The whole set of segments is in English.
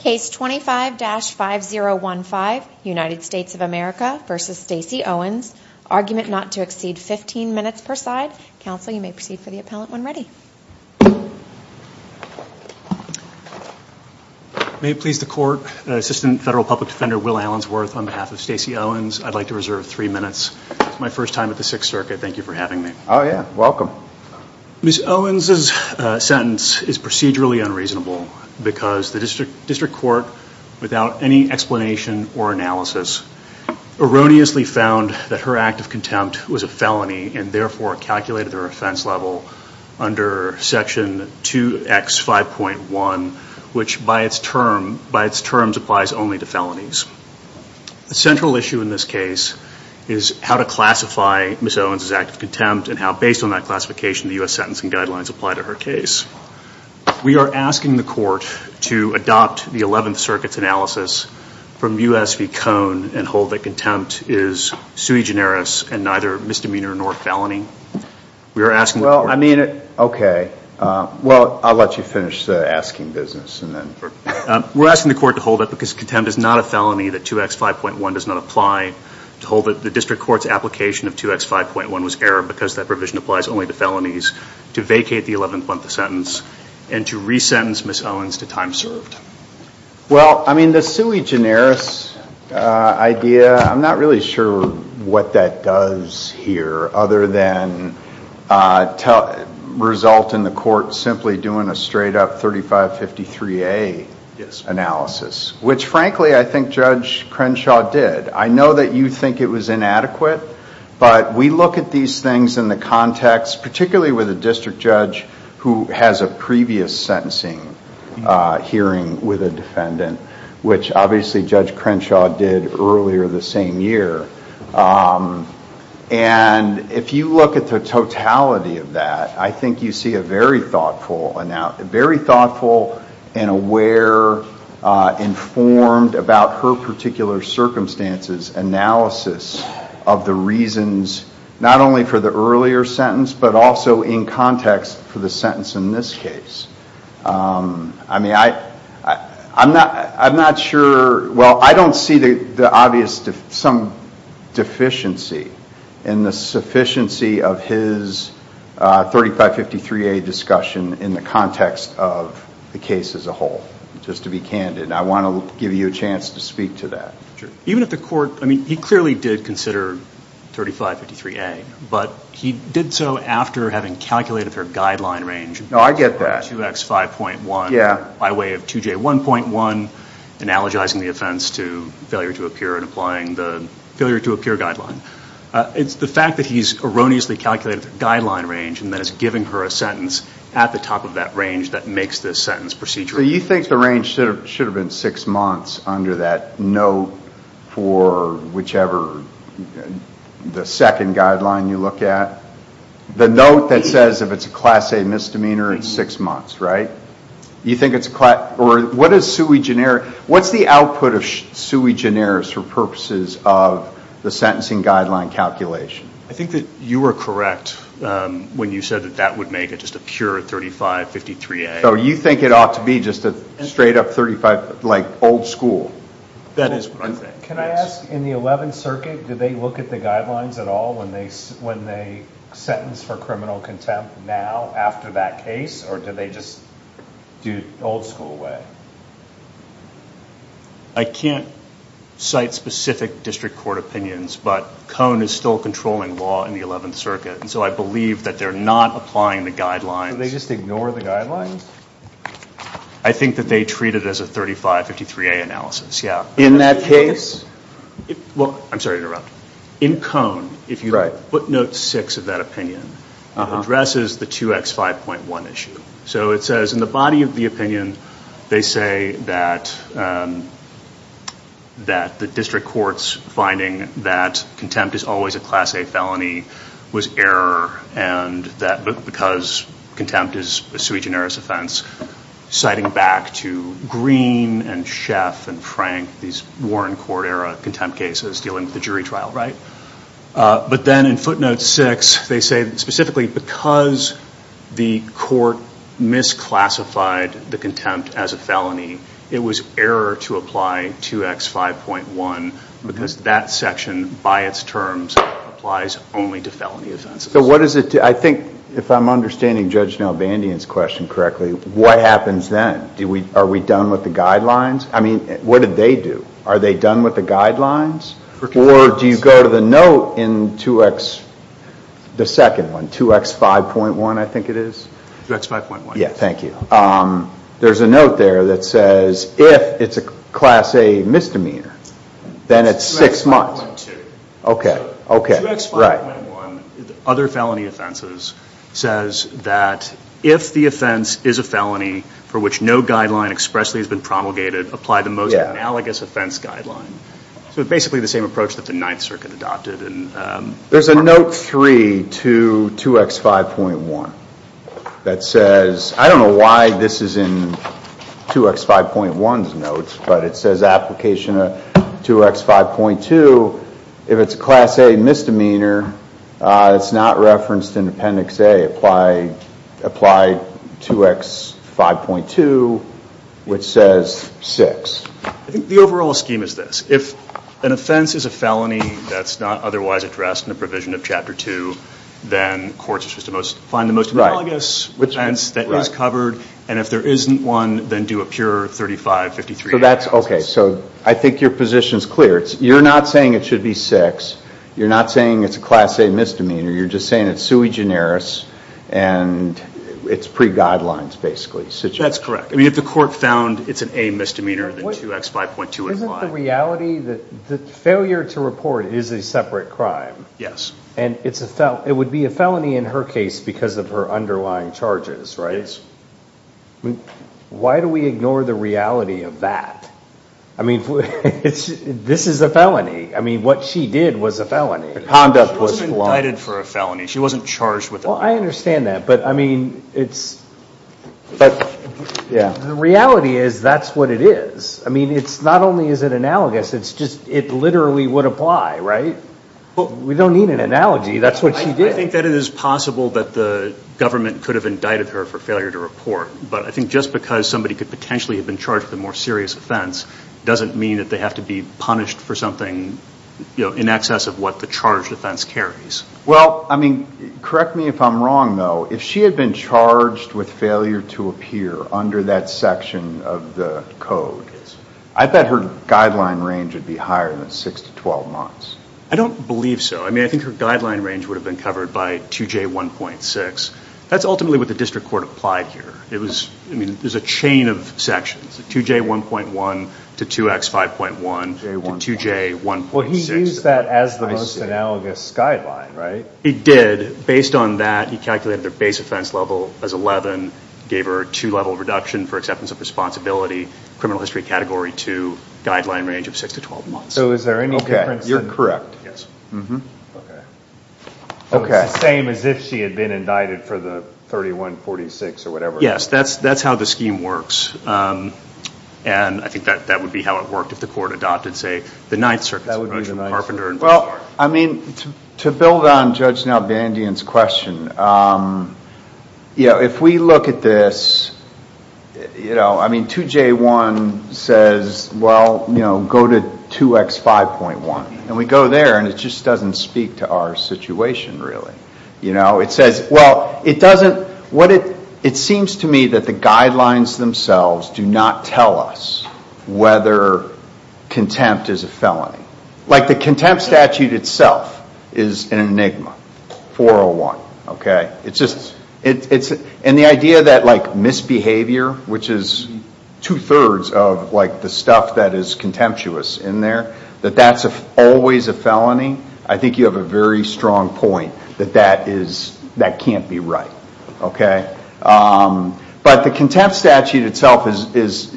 Case 25-5015, United States of America v. Stacy Owens, argument not to exceed 15 minutes per side. Counsel, you may proceed for the appellant when ready. May it please the court, Assistant Federal Public Defender Will Allensworth on behalf of Stacy Owens. I'd like to reserve three minutes. It's my first time at the Sixth Circuit. Thank you for having me. Oh, yeah. Welcome. Ms. Owens' sentence is procedurally unreasonable because the district court, without any explanation or analysis, erroneously found that her act of contempt was a felony and therefore calculated her offense level under Section 2X5.1, which by its terms applies only to felonies. The central issue in this case is how to classify Ms. Owens' act of contempt and how, based on that classification, the U.S. Sentencing Guidelines apply to her case. We are asking the court to adopt the Eleventh Circuit's analysis from U.S. v. Cone and hold that contempt is sui generis and neither misdemeanor nor felony. We are asking the court to hold it because contempt is not a felony that 2X5.1 does not apply. The district court's application of 2X5.1 was error because that provision applies only to felonies, to vacate the Eleventh Month of Sentence, and to resentence Ms. Owens to time served. Well, I mean, the sui generis idea, I'm not really sure what that does here other than result in the court simply doing a straight up 3553A analysis, which frankly, I think Judge Crenshaw did. I know that you think it was inadequate, but we look at these things in the context, particularly with a district judge who has a previous sentencing hearing with a defendant, which obviously Judge Crenshaw did earlier the same year. If you look at the totality of that, I think you see a very thoughtful and aware, informed about her particular circumstances analysis of the reasons, not only for the earlier sentence, but also in context for the sentence in this case. I mean, I'm not sure, well, I don't see the obvious, some deficiency in the sufficiency of his 3553A discussion in the context of the case as a whole, just to be candid. I want to give you a chance to speak to that. Even if the court, I mean, he clearly did consider 3553A, but he did so after having calculated her guideline range. No, I get that. 2X5.1 by way of 2J1.1, analogizing the offense to failure to appear and applying the failure to appear guideline. It's the fact that he's erroneously calculated the guideline range and then is giving her a sentence at the top of that range that makes this sentence procedural. So you think the range should have been six months under that note for whichever the second guideline you look at? The note that says if it's a class A misdemeanor, it's six months, right? You think it's a class, or what is sui generis, what's the output of sui generis for purposes of the sentencing guideline calculation? I think that you were correct when you said that that would make it just a pure 3553A. So you think it ought to be just a straight up 35, like old school? That is what I'm saying. Can I ask, in the 11th Circuit, did they look at the guidelines at all when they sentenced for criminal contempt now after that case, or did they just do old school way? I can't cite specific district court opinions, but Cone is still controlling law in the 11th Circuit, so I believe that they're not applying the guidelines. So they just ignore the guidelines? I think that they treat it as a 3553A analysis, yeah. In that case? Well, I'm sorry to interrupt. In Cone, if you footnote six of that opinion, it addresses the 2X5.1 issue. So it says in the body of the opinion, they say that the district court's finding that contempt is always a class A felony was error, and that because contempt is a sui generis offense, citing back to Green and Schaff and Frank, these Warren Court era contempt cases dealing with the jury trial, right? But then in footnote six, they say specifically because the court misclassified the contempt as a felony, it was error to apply 2X5.1, because that section by its terms applies only to felony offenses. So what does it do? I think if I'm understanding Judge Nalbandian's question correctly, what happens then? Are we done with the guidelines? I mean, what did they do? Are they done with the guidelines, or do you go to the note in 2X, the second one, 2X5.1, I think it is? 2X5.1. Yeah, thank you. There's a note there that says if it's a class A misdemeanor, then it's six months. Okay, okay. 2X5.1, other felony offenses, says that if the offense is a felony for which no guideline expressly has been promulgated, apply the most analogous offense guideline. So basically the same approach that the Ninth Circuit adopted. There's a note 3 to 2X5.1 that says, I don't know why this is in 2X5.1's notes, but it says application of 2X5.2, if it's a class A misdemeanor, it's not referenced in Appendix A, apply 2X5.2, which says six. I think the overall scheme is this. If an offense is a felony that's not otherwise addressed in the provision of Chapter 2, then courts are supposed to find the most analogous offense that is covered, and if there isn't one, then do a pure 35-53 analysis. So I think your position is clear. You're not saying it should be six. You're not saying it's a class A misdemeanor. You're just saying it's sui generis, and it's pre-guidelines, basically. That's correct. I mean, if the court found it's an A misdemeanor, then 2X5.2 would apply. It's not the reality that failure to report is a separate crime, and it would be a felony in her case because of her underlying charges, right? Why do we ignore the reality of that? I mean, this is a felony. I mean, what she did was a felony. Conduct was flawed. She wasn't indicted for a felony. She wasn't charged with a felony. Well, I understand that, but I mean, the reality is that's what it is. I mean, not only is it analogous, it literally would apply, right? We don't need an analogy. That's what she did. I think that it is possible that the government could have indicted her for failure to report, but I think just because somebody could potentially have been charged with a more serious offense doesn't mean that they have to be punished for something in excess of what the charged offense carries. Well, I mean, correct me if I'm wrong, though. If she had been charged with failure to appear under that section of the code, I bet her guideline range would be higher than 6 to 12 months. I don't believe so. I mean, I think her guideline range would have been covered by 2J1.6. That's ultimately what the district court applied here. It was, I mean, there's a chain of sections, 2J1.1 to 2X5.1 to 2J1.6. Well, he used that as the most analogous guideline, right? He did. Based on that, he calculated their base offense level as 11, gave her a two-level reduction for acceptance of responsibility, criminal history category 2, guideline range of 6 to 12 months. So is there any difference? Okay, you're correct. Yes. Okay. Okay. It's the same as if she had been indicted for the 3146 or whatever. Yes. That's how the scheme works, and I think that would be how it worked if the court adopted, say, the Ninth Circuit's approach from Carpenter and Blanchard. I mean, to build on Judge Nalbandian's question, if we look at this, 2J1 says, well, go to 2X5.1, and we go there, and it just doesn't speak to our situation, really. It seems to me that the guidelines themselves do not tell us whether contempt is a felony. Like the contempt statute itself is an enigma, 401, okay? It's just, and the idea that misbehavior, which is two-thirds of the stuff that is contemptuous in there, that that's always a felony, I think you have a very strong point that that can't be right, okay? But the contempt statute itself is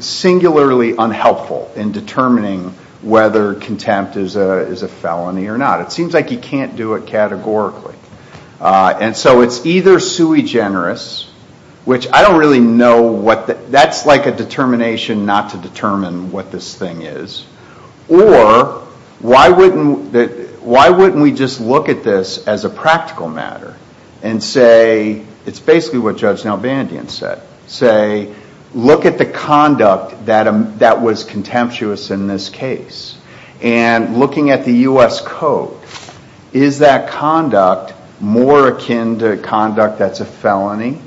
singularly unhelpful in determining whether contempt is a felony or not. It seems like you can't do it categorically. And so it's either sui generis, which I don't really know what the, that's like a determination not to determine what this thing is, or why wouldn't we just look at this as a practical matter and say, it's basically what Judge Nelvandian said, say, look at the conduct that was contemptuous in this case, and looking at the U.S. Code, is that conduct more akin to conduct that's a felony,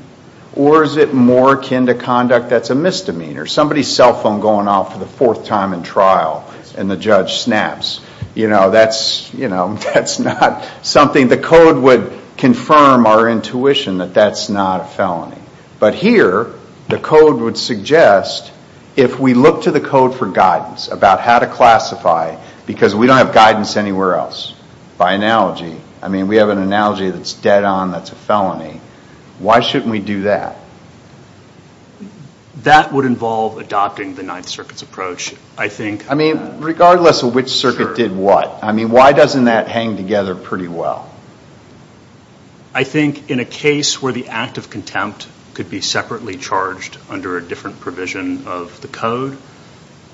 or is it more akin to conduct that's a misdemeanor? Somebody's cell phone going off for the fourth time in trial, and the judge snaps. You know, that's, you know, that's not something. I mean, the code would confirm our intuition that that's not a felony. But here, the code would suggest, if we look to the code for guidance about how to classify, because we don't have guidance anywhere else, by analogy, I mean, we have an analogy that's dead on that's a felony, why shouldn't we do that? That would involve adopting the Ninth Circuit's approach, I think. I mean, regardless of which circuit did what. I mean, why doesn't that hang together pretty well? I think in a case where the act of contempt could be separately charged under a different provision of the code,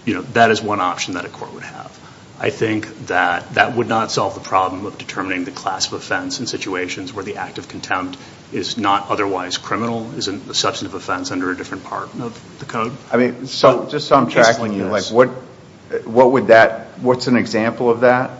you know, that is one option that a court would have. I think that that would not solve the problem of determining the class of offense in situations where the act of contempt is not otherwise criminal, is a substantive offense under a different part of the code. I mean, so just so I'm tracking you, like, what would that, what's an example of that?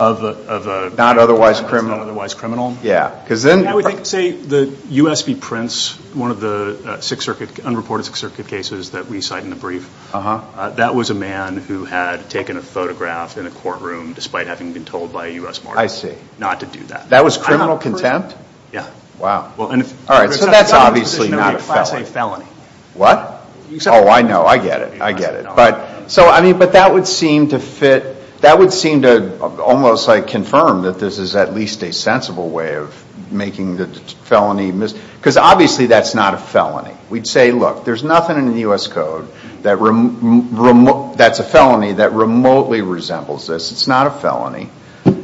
Of a. Not otherwise criminal. That's not otherwise criminal. Yeah, because then. I would think, say, the U.S. v. Prince, one of the Sixth Circuit, unreported Sixth Circuit cases that we cite in the brief, that was a man who had taken a photograph in a courtroom, despite having been told by a U.S. martyr. I see. Not to do that. That was criminal contempt? Yeah. Wow. Well, and if. All right, so that's obviously not a felony. What? Oh, I know. I get it. I get it. But so, I mean, but that would seem to fit. That would seem to almost, like, confirm that this is at least a sensible way of making the felony, because obviously that's not a felony. We'd say, look, there's nothing in the U.S. Code that's a felony that remotely resembles this. It's not a felony.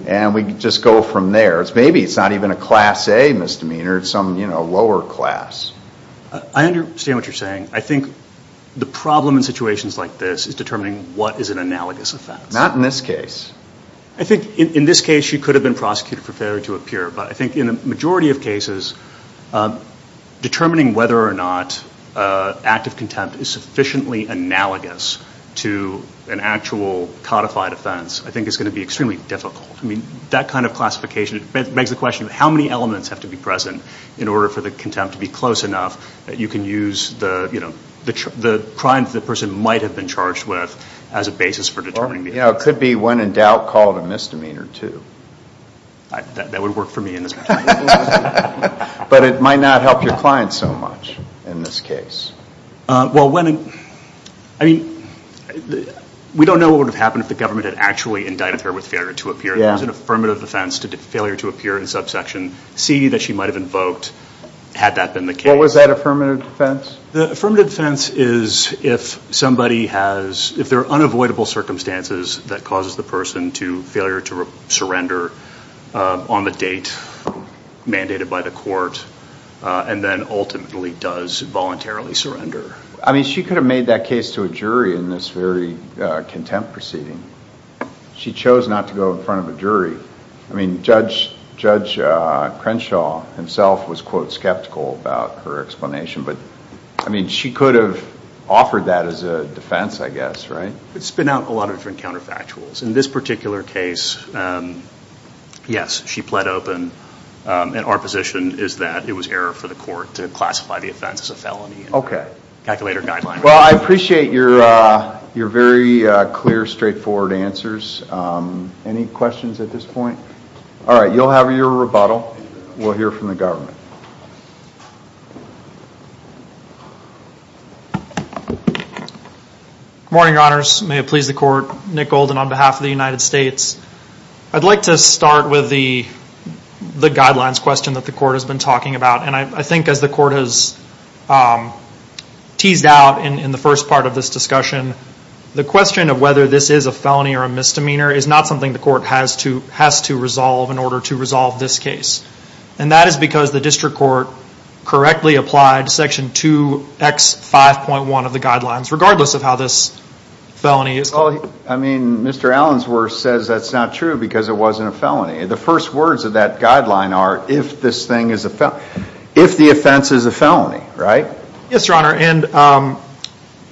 And we just go from there. Maybe it's not even a Class A misdemeanor. It's some, you know, lower class. I understand what you're saying. I think the problem in situations like this is determining what is an analogous offense. Not in this case. I think in this case, she could have been prosecuted for failure to appear, but I think in a majority of cases, determining whether or not an act of contempt is sufficiently analogous to an actual codified offense, I think is going to be extremely difficult. I mean, that kind of classification, it begs the question of how many elements have to be present in order for the contempt to be close enough that you can use the, you know, the crime that the person might have been charged with as a basis for determining the Or, you know, it could be, when in doubt, called a misdemeanor, too. That would work for me in this particular case. But it might not help your client so much in this case. Well, when in, I mean, we don't know what would have happened if the government had actually indicted her with failure to appear. Yeah. What was an affirmative defense to failure to appear in subsection C that she might have invoked had that been the case? What was that affirmative defense? The affirmative defense is if somebody has, if there are unavoidable circumstances that causes the person to failure to surrender on the date mandated by the court, and then ultimately does voluntarily surrender. I mean, she could have made that case to a jury in this very contempt proceeding. She chose not to go in front of a jury. I mean, Judge Crenshaw himself was, quote, skeptical about her explanation. But, I mean, she could have offered that as a defense, I guess, right? It's been out in a lot of different counterfactuals. In this particular case, yes, she pled open. And our position is that it was error for the court to classify the offense as a felony. Okay. Calculator guideline. Well, I appreciate your very clear, straightforward answers. Any questions at this point? All right. You'll have your rebuttal. We'll hear from the government. Good morning, Your Honors. May it please the court. Nick Golden on behalf of the United States. I'd like to start with the guidelines question that the court has been talking about. And I think as the court has teased out in the first part of this discussion, the question of whether this is a felony or a misdemeanor is not something the court has to resolve in order to resolve this case. And that is because the district court correctly applied Section 2X5.1 of the guidelines, regardless of how this felony is called. I mean, Mr. Allensworth says that's not true because it wasn't a felony. The first words of that guideline are if this thing is a felony. If the offense is a felony, right? Yes, Your Honor, and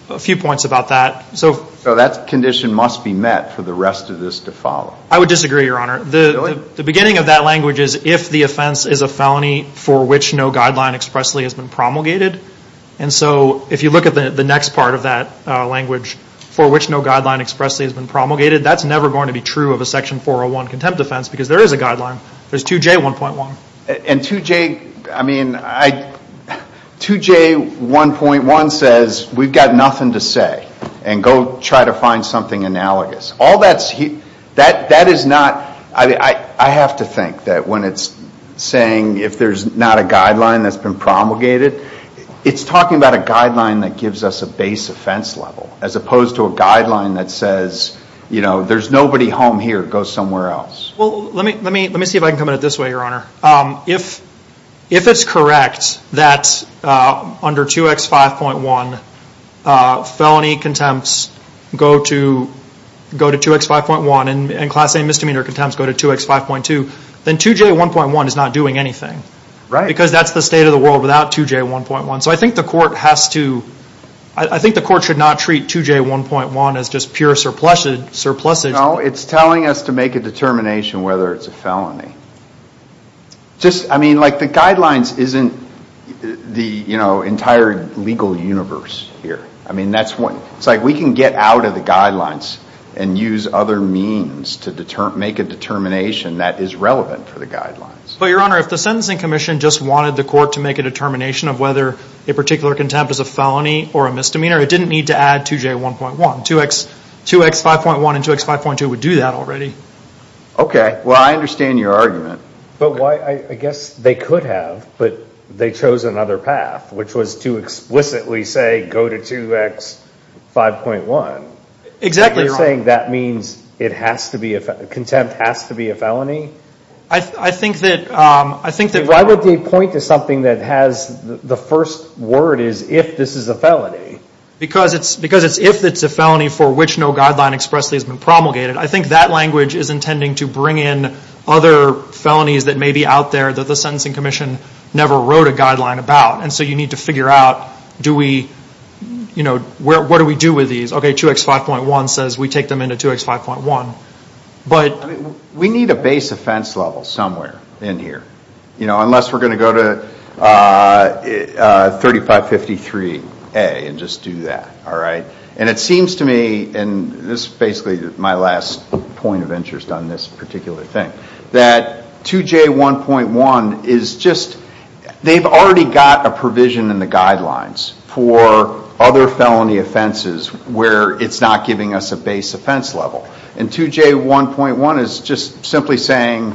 a few points about that. So that condition must be met for the rest of this to follow. I would disagree, Your Honor. The beginning of that language is if the offense is a felony for which no guideline expressly has been promulgated. And so if you look at the next part of that language, for which no guideline expressly has been promulgated, that's never going to be true of a Section 401 contempt offense because there is a guideline. There's 2J1.1. And 2J, I mean, I, 2J1.1 says we've got nothing to say and go try to find something analogous. All that's, that is not, I have to think that when it's saying if there's not a guideline that's been promulgated, it's talking about a guideline that gives us a base offense level as opposed to a guideline that says, you know, there's nobody home here, go somewhere else. Well, let me, let me, let me see if I can come at it this way, Your Honor. If, if it's correct that under 2X5.1 felony contempts go to, go to 2X5.1 and class A misdemeanor contempts go to 2X5.2, then 2J1.1 is not doing anything. Right. Because that's the state of the world without 2J1.1. So I think the court has to, I think the court should not treat 2J1.1 as just pure surpluses, surpluses. No, it's telling us to make a determination whether it's a felony. Just, I mean, like the guidelines isn't the, you know, entire legal universe here. I mean, that's what, it's like we can get out of the guidelines and use other means to determine, make a determination that is relevant for the guidelines. Well, Your Honor, if the Sentencing Commission just wanted the court to make a determination of whether a particular contempt is a felony or a misdemeanor, it didn't need to add 2J1.1. 2X, 2X5.1 and 2X5.2 would do that already. Okay. Well, I understand your argument. But why, I guess they could have, but they chose another path, which was to explicitly say go to 2X5.1. Exactly. And you're saying that means it has to be, contempt has to be a felony? I think that, I think that. Why would they point to something that has the first word is if this is a felony? Because it's, because it's if it's a felony for which no guideline expressly has been promulgated. I think that language is intending to bring in other felonies that may be out there that the Sentencing Commission never wrote a guideline about. And so you need to figure out, do we, you know, where, what do we do with these? Okay, 2X5.1 says we take them into 2X5.1. But. We need a base offense level somewhere in here. You know, unless we're going to go to 3553A and just do that. All right. And it seems to me, and this is basically my last point of interest on this particular thing. That 2J1.1 is just, they've already got a provision in the guidelines for other felony offenses where it's not giving us a base offense level. And 2J1.1 is just simply saying,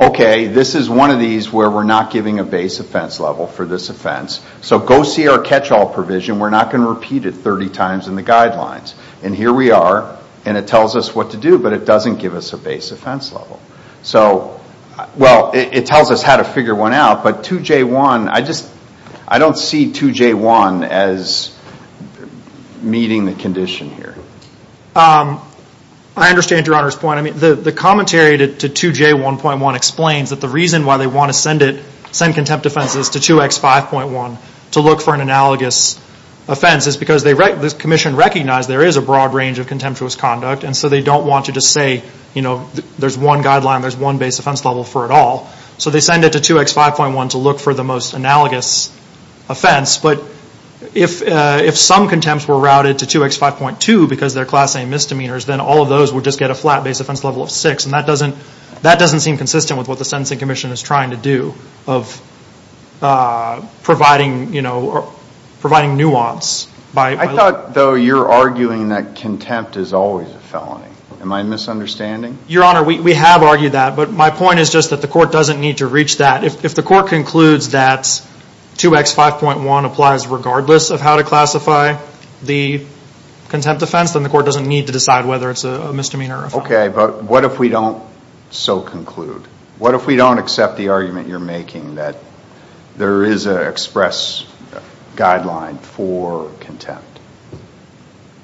okay, this is one of these where we're not giving a base offense level for this offense. So go see our catch-all provision. We're not going to repeat it 30 times in the guidelines. And here we are. And it tells us what to do. But it doesn't give us a base offense level. So, well, it tells us how to figure one out. But 2J1, I just, I don't see 2J1 as meeting the condition here. I understand Your Honor's point. I mean, the commentary to 2J1.1 explains that the reason why they want to send it, send contempt offenses to 2X5.1 to look for an analogous offense is because the commission recognized there is a broad range of contemptuous conduct. And so they don't want to just say, you know, there's one guideline. There's one base offense level for it all. So they send it to 2X5.1 to look for the most analogous offense. But if some contempts were routed to 2X5.2 because they're class A misdemeanors, then all of those would just get a flat base offense level of 6. And that doesn't seem consistent with what the sentencing commission is trying to do of providing, you know, providing nuance. I thought, though, you're arguing that contempt is always a felony. Am I misunderstanding? Your Honor, we have argued that. But my point is just that the court doesn't need to reach that. If the court concludes that 2X5.1 applies regardless of how to classify the contempt offense, then the court doesn't need to decide whether it's a misdemeanor or a felony. Okay. But what if we don't so conclude? What if we don't accept the argument you're making that there is an express guideline for contempt?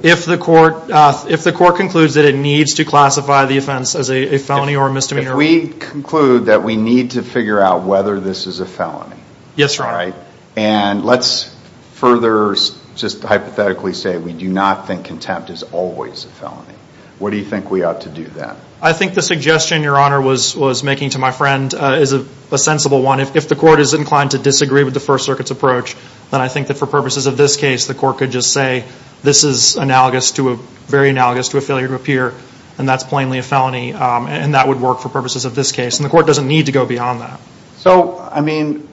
If the court concludes that it needs to classify the offense as a felony or misdemeanor. If we conclude that we need to figure out whether this is a felony. Yes, Your Honor. And let's further just hypothetically say we do not think contempt is always a felony. What do you think we ought to do then? I think the suggestion, Your Honor, was making to my friend is a sensible one. If the court is inclined to disagree with the First Circuit's approach, then I think that for purposes of this case, the court could just say this is analogous to a, very analogous to a failure to appear, and that's plainly a felony. And that would work for purposes of this case. And the court doesn't need to go beyond that. So, I mean,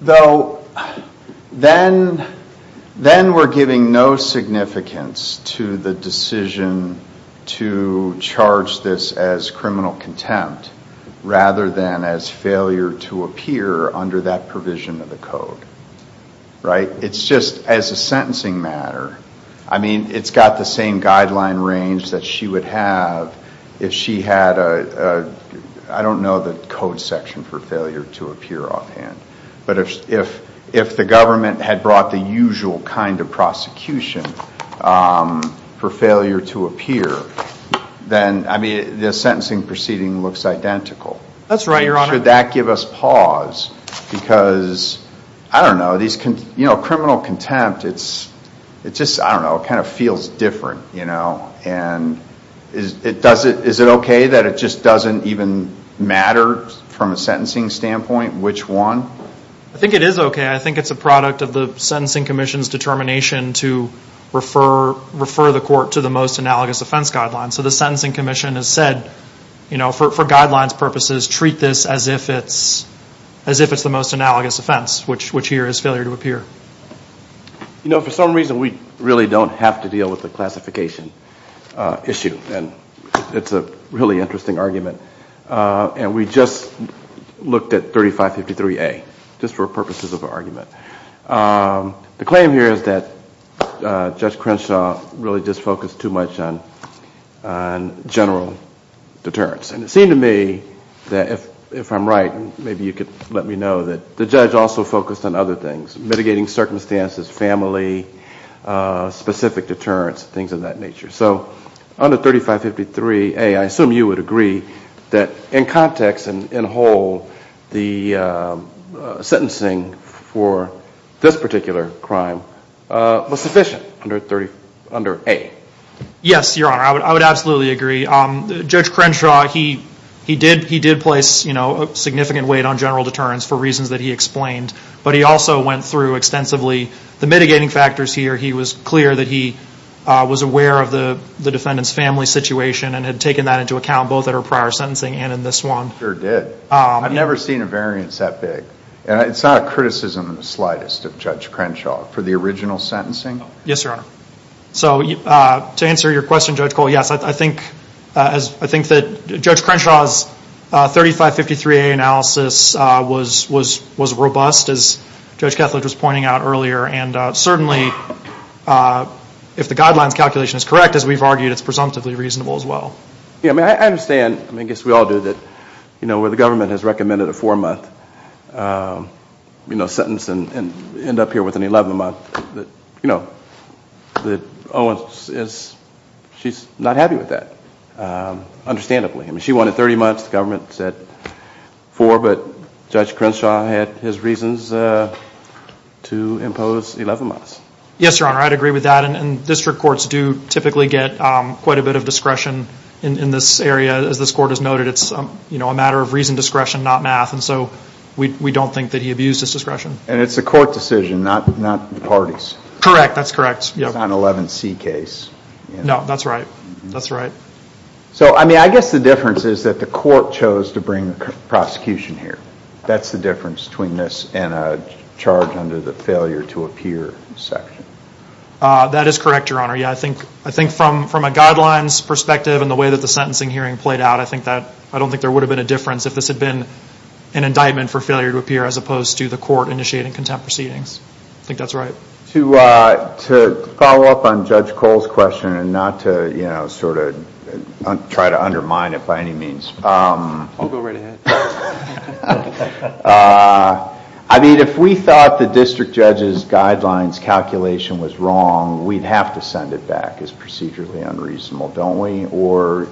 though, then we're giving no significance to the decision to charge this as criminal contempt rather than as failure to appear under that provision of the code. Right? It's just as a sentencing matter, I mean, it's got the same guideline range that she would have if she had a, I don't know the code section for failure to appear offhand. But if the government had brought the usual kind of prosecution for failure to appear, then, I mean, the sentencing proceeding looks identical. That's right, Your Honor. Should that give us pause because, I don't know, these, you know, criminal contempt, it's just, I don't know, it kind of feels different, you know. And is it okay that it just doesn't even matter from a sentencing standpoint which one? I think it is okay. I think it's a product of the Sentencing Commission's determination to refer the court to the most analogous offense guidelines. So the Sentencing Commission has said, you know, for guidelines purposes, treat this as if it's, as if it's the most analogous offense, which here is failure to appear. You know, for some reason, we really don't have to deal with the classification issue. And it's a really interesting argument. And we just looked at 3553A, just for purposes of argument. The claim here is that Judge Crenshaw really just focused too much on general deterrence. And it seemed to me that if I'm right, maybe you could let me know that the judge also focused on other things. Mitigating circumstances, family, specific deterrence, things of that nature. So under 3553A, I assume you would agree that in context and in whole, the sentencing for this particular crime was sufficient under 30, under A. Yes, Your Honor, I would absolutely agree. Judge Crenshaw, he did, he did place, you know, significant weight on general deterrence for reasons that he explained. But he also went through extensively the mitigating factors here. He was clear that he was aware of the defendant's family situation and had taken that into account both at her prior sentencing and in this one. Sure did. I've never seen a variance that big. And it's not a criticism in the slightest of Judge Crenshaw for the original sentencing. Yes, Your Honor. So to answer your question, Judge Cole, yes, I think, I think that Judge Crenshaw's 3553A analysis was robust, as Judge Kethledge was pointing out earlier. And certainly, if the guidelines calculation is correct, as we've argued, it's presumptively reasonable as well. Yeah, I mean, I understand, I mean, I guess we all do that, you know, where the government has recommended a four-month, you know, understandably. I mean, she wanted 30 months, the government said four, but Judge Crenshaw had his reasons to impose 11 months. Yes, Your Honor, I'd agree with that. And district courts do typically get quite a bit of discretion in this area. As this court has noted, it's, you know, a matter of reason discretion, not math. And so we don't think that he abused his discretion. And it's a court decision, not the parties. Correct, that's correct. It's not an 11C case. No, that's right. That's right. So, I mean, I guess the difference is that the court chose to bring the prosecution here. That's the difference between this and a charge under the failure to appear section. That is correct, Your Honor. Yeah, I think from a guidelines perspective and the way that the sentencing hearing played out, I think that, I don't think there would have been a difference if this had been an indictment for failure to appear as opposed to the court initiating contempt proceedings. I think that's right. To follow up on Judge Cole's question and not to, you know, sort of try to undermine it by any means. I'll go right ahead. I mean, if we thought the district judge's guidelines calculation was wrong, we'd have to send it back as procedurally unreasonable, don't we? Or,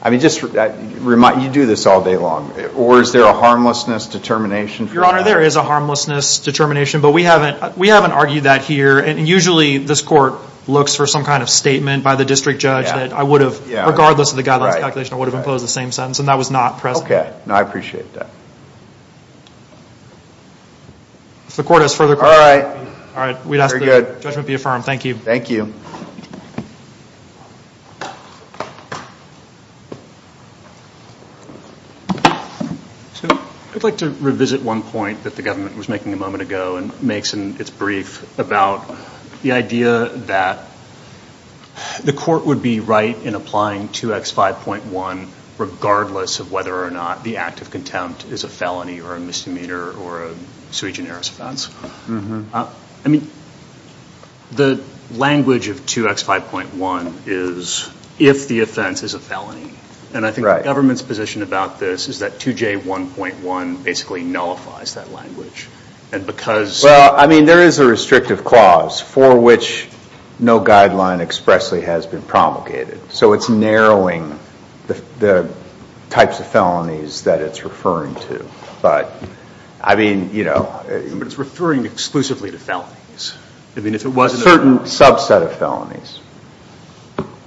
I mean, just remind, you do this all day long. Or is there a harmlessness determination? Your Honor, there is a harmlessness determination. But we haven't argued that here. And usually, this court looks for some kind of statement by the district judge that I would have, regardless of the guidelines calculation, I would have imposed the same sentence. And that was not present. Okay. I appreciate that. If the court has further questions. All right. All right. We'd ask that judgment be affirmed. Thank you. Thank you. I'd like to revisit one point that the government was making a moment ago and makes in its brief about the idea that the court would be right in applying 2X5.1 regardless of whether or not the act of contempt is a felony or a misdemeanor or a sui generis offense. I mean, the language of 2X5.1 is if the offense is a felony. And I think the government's position about this is that 2J1.1 basically nullifies that language. And because. Well, I mean, there is a restrictive clause for which no guideline expressly has been promulgated. So it's narrowing the types of felonies that it's referring to. But, I mean, you know. But it's referring exclusively to felonies. I mean, if it wasn't. A certain subset of felonies.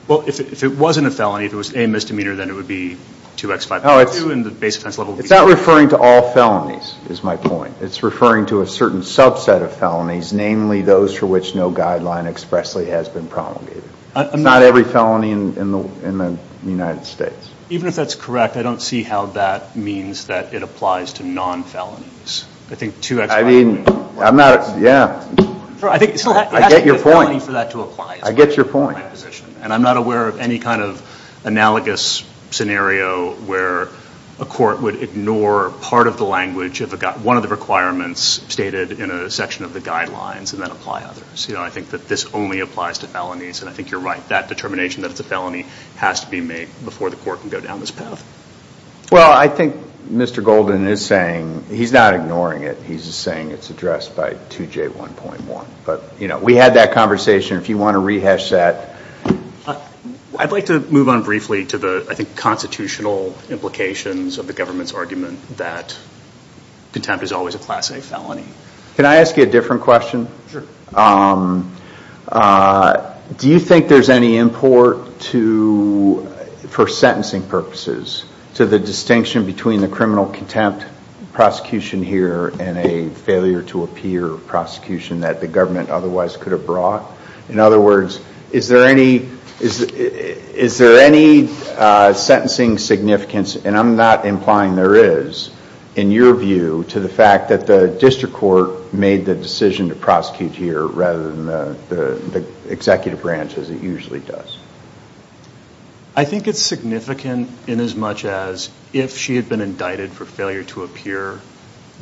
Well, if it wasn't a felony, if it was a misdemeanor, then it would be 2X5.2 and the base offense level would be. It's not referring to all felonies, is my point. It's referring to a certain subset of felonies, namely those for which no guideline expressly has been promulgated. It's not every felony in the United States. Even if that's correct, I don't see how that means that it applies to non-felonies. I think 2X5.1. I mean, I'm not. Yeah. I get your point. It has to be a felony for that to apply. I get your point. And I'm not aware of any kind of analogous scenario where a court would ignore part of the language of one of the requirements stated in a section of the guidelines and then apply others. You know, I think that this only applies to felonies. And I think you're right. That determination that it's a felony has to be made before the court can go down this path. Well, I think Mr. Golden is saying, he's not ignoring it. He's saying it's addressed by 2J1.1. But, you know, we had that conversation. If you want to rehash that. I'd like to move on briefly to the, I think, constitutional implications of the government's argument that contempt is always a class A felony. Can I ask you a different question? Do you think there's any import for sentencing purposes to the distinction between the criminal contempt prosecution here and a failure to appear prosecution that the government otherwise could have brought? In other words, is there any sentencing significance? And I'm not implying there is, in your view, to the fact that the district court made the decision to prosecute here rather than the executive branch as it usually does. I think it's significant in as much as if she had been indicted for failure to appear,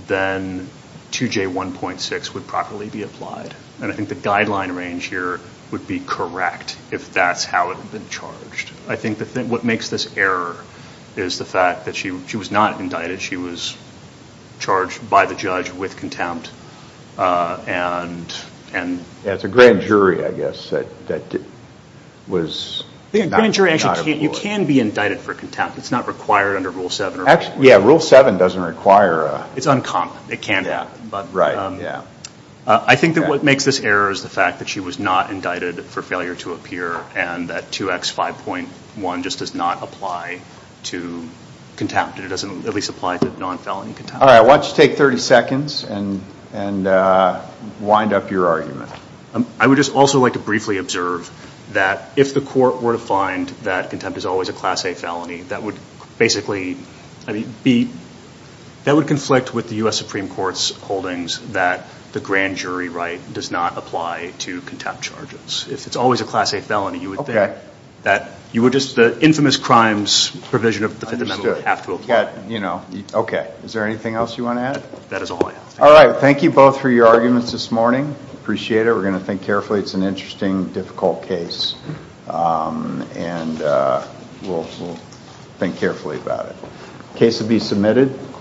then 2J1.6 would properly be applied. And I think the guideline range here would be correct if that's how it had been charged. I think what makes this error is the fact that she was not indicted. She was charged by the judge with contempt. Yeah, it's a grand jury, I guess, that was. The grand jury, actually, you can be indicted for contempt. It's not required under Rule 7. Actually, yeah, Rule 7 doesn't require. It's uncomp. It can be. Yeah, right, yeah. I think that what makes this error is the fact that she was not indicted for failure to appear and that 2X5.1 just does not apply to contempt. It doesn't at least apply to non-felony contempt. All right, why don't you take 30 seconds and wind up your argument. I would just also like to briefly observe that if the court were to find that contempt is always a Class A felony, that would basically, I mean, that would conflict with the U.S. Supreme Court's holdings that the grand jury right does not apply to contempt charges. It's always a Class A felony. You would think that you would just, the infamous crimes provision of the Fifth Amendment would have to apply. You know, okay. Is there anything else you want to add? That is all I have. All right, thank you both for your arguments this morning. Appreciate it. We're going to think carefully. It's an interesting, difficult case, and we'll think carefully about it. Case will be submitted.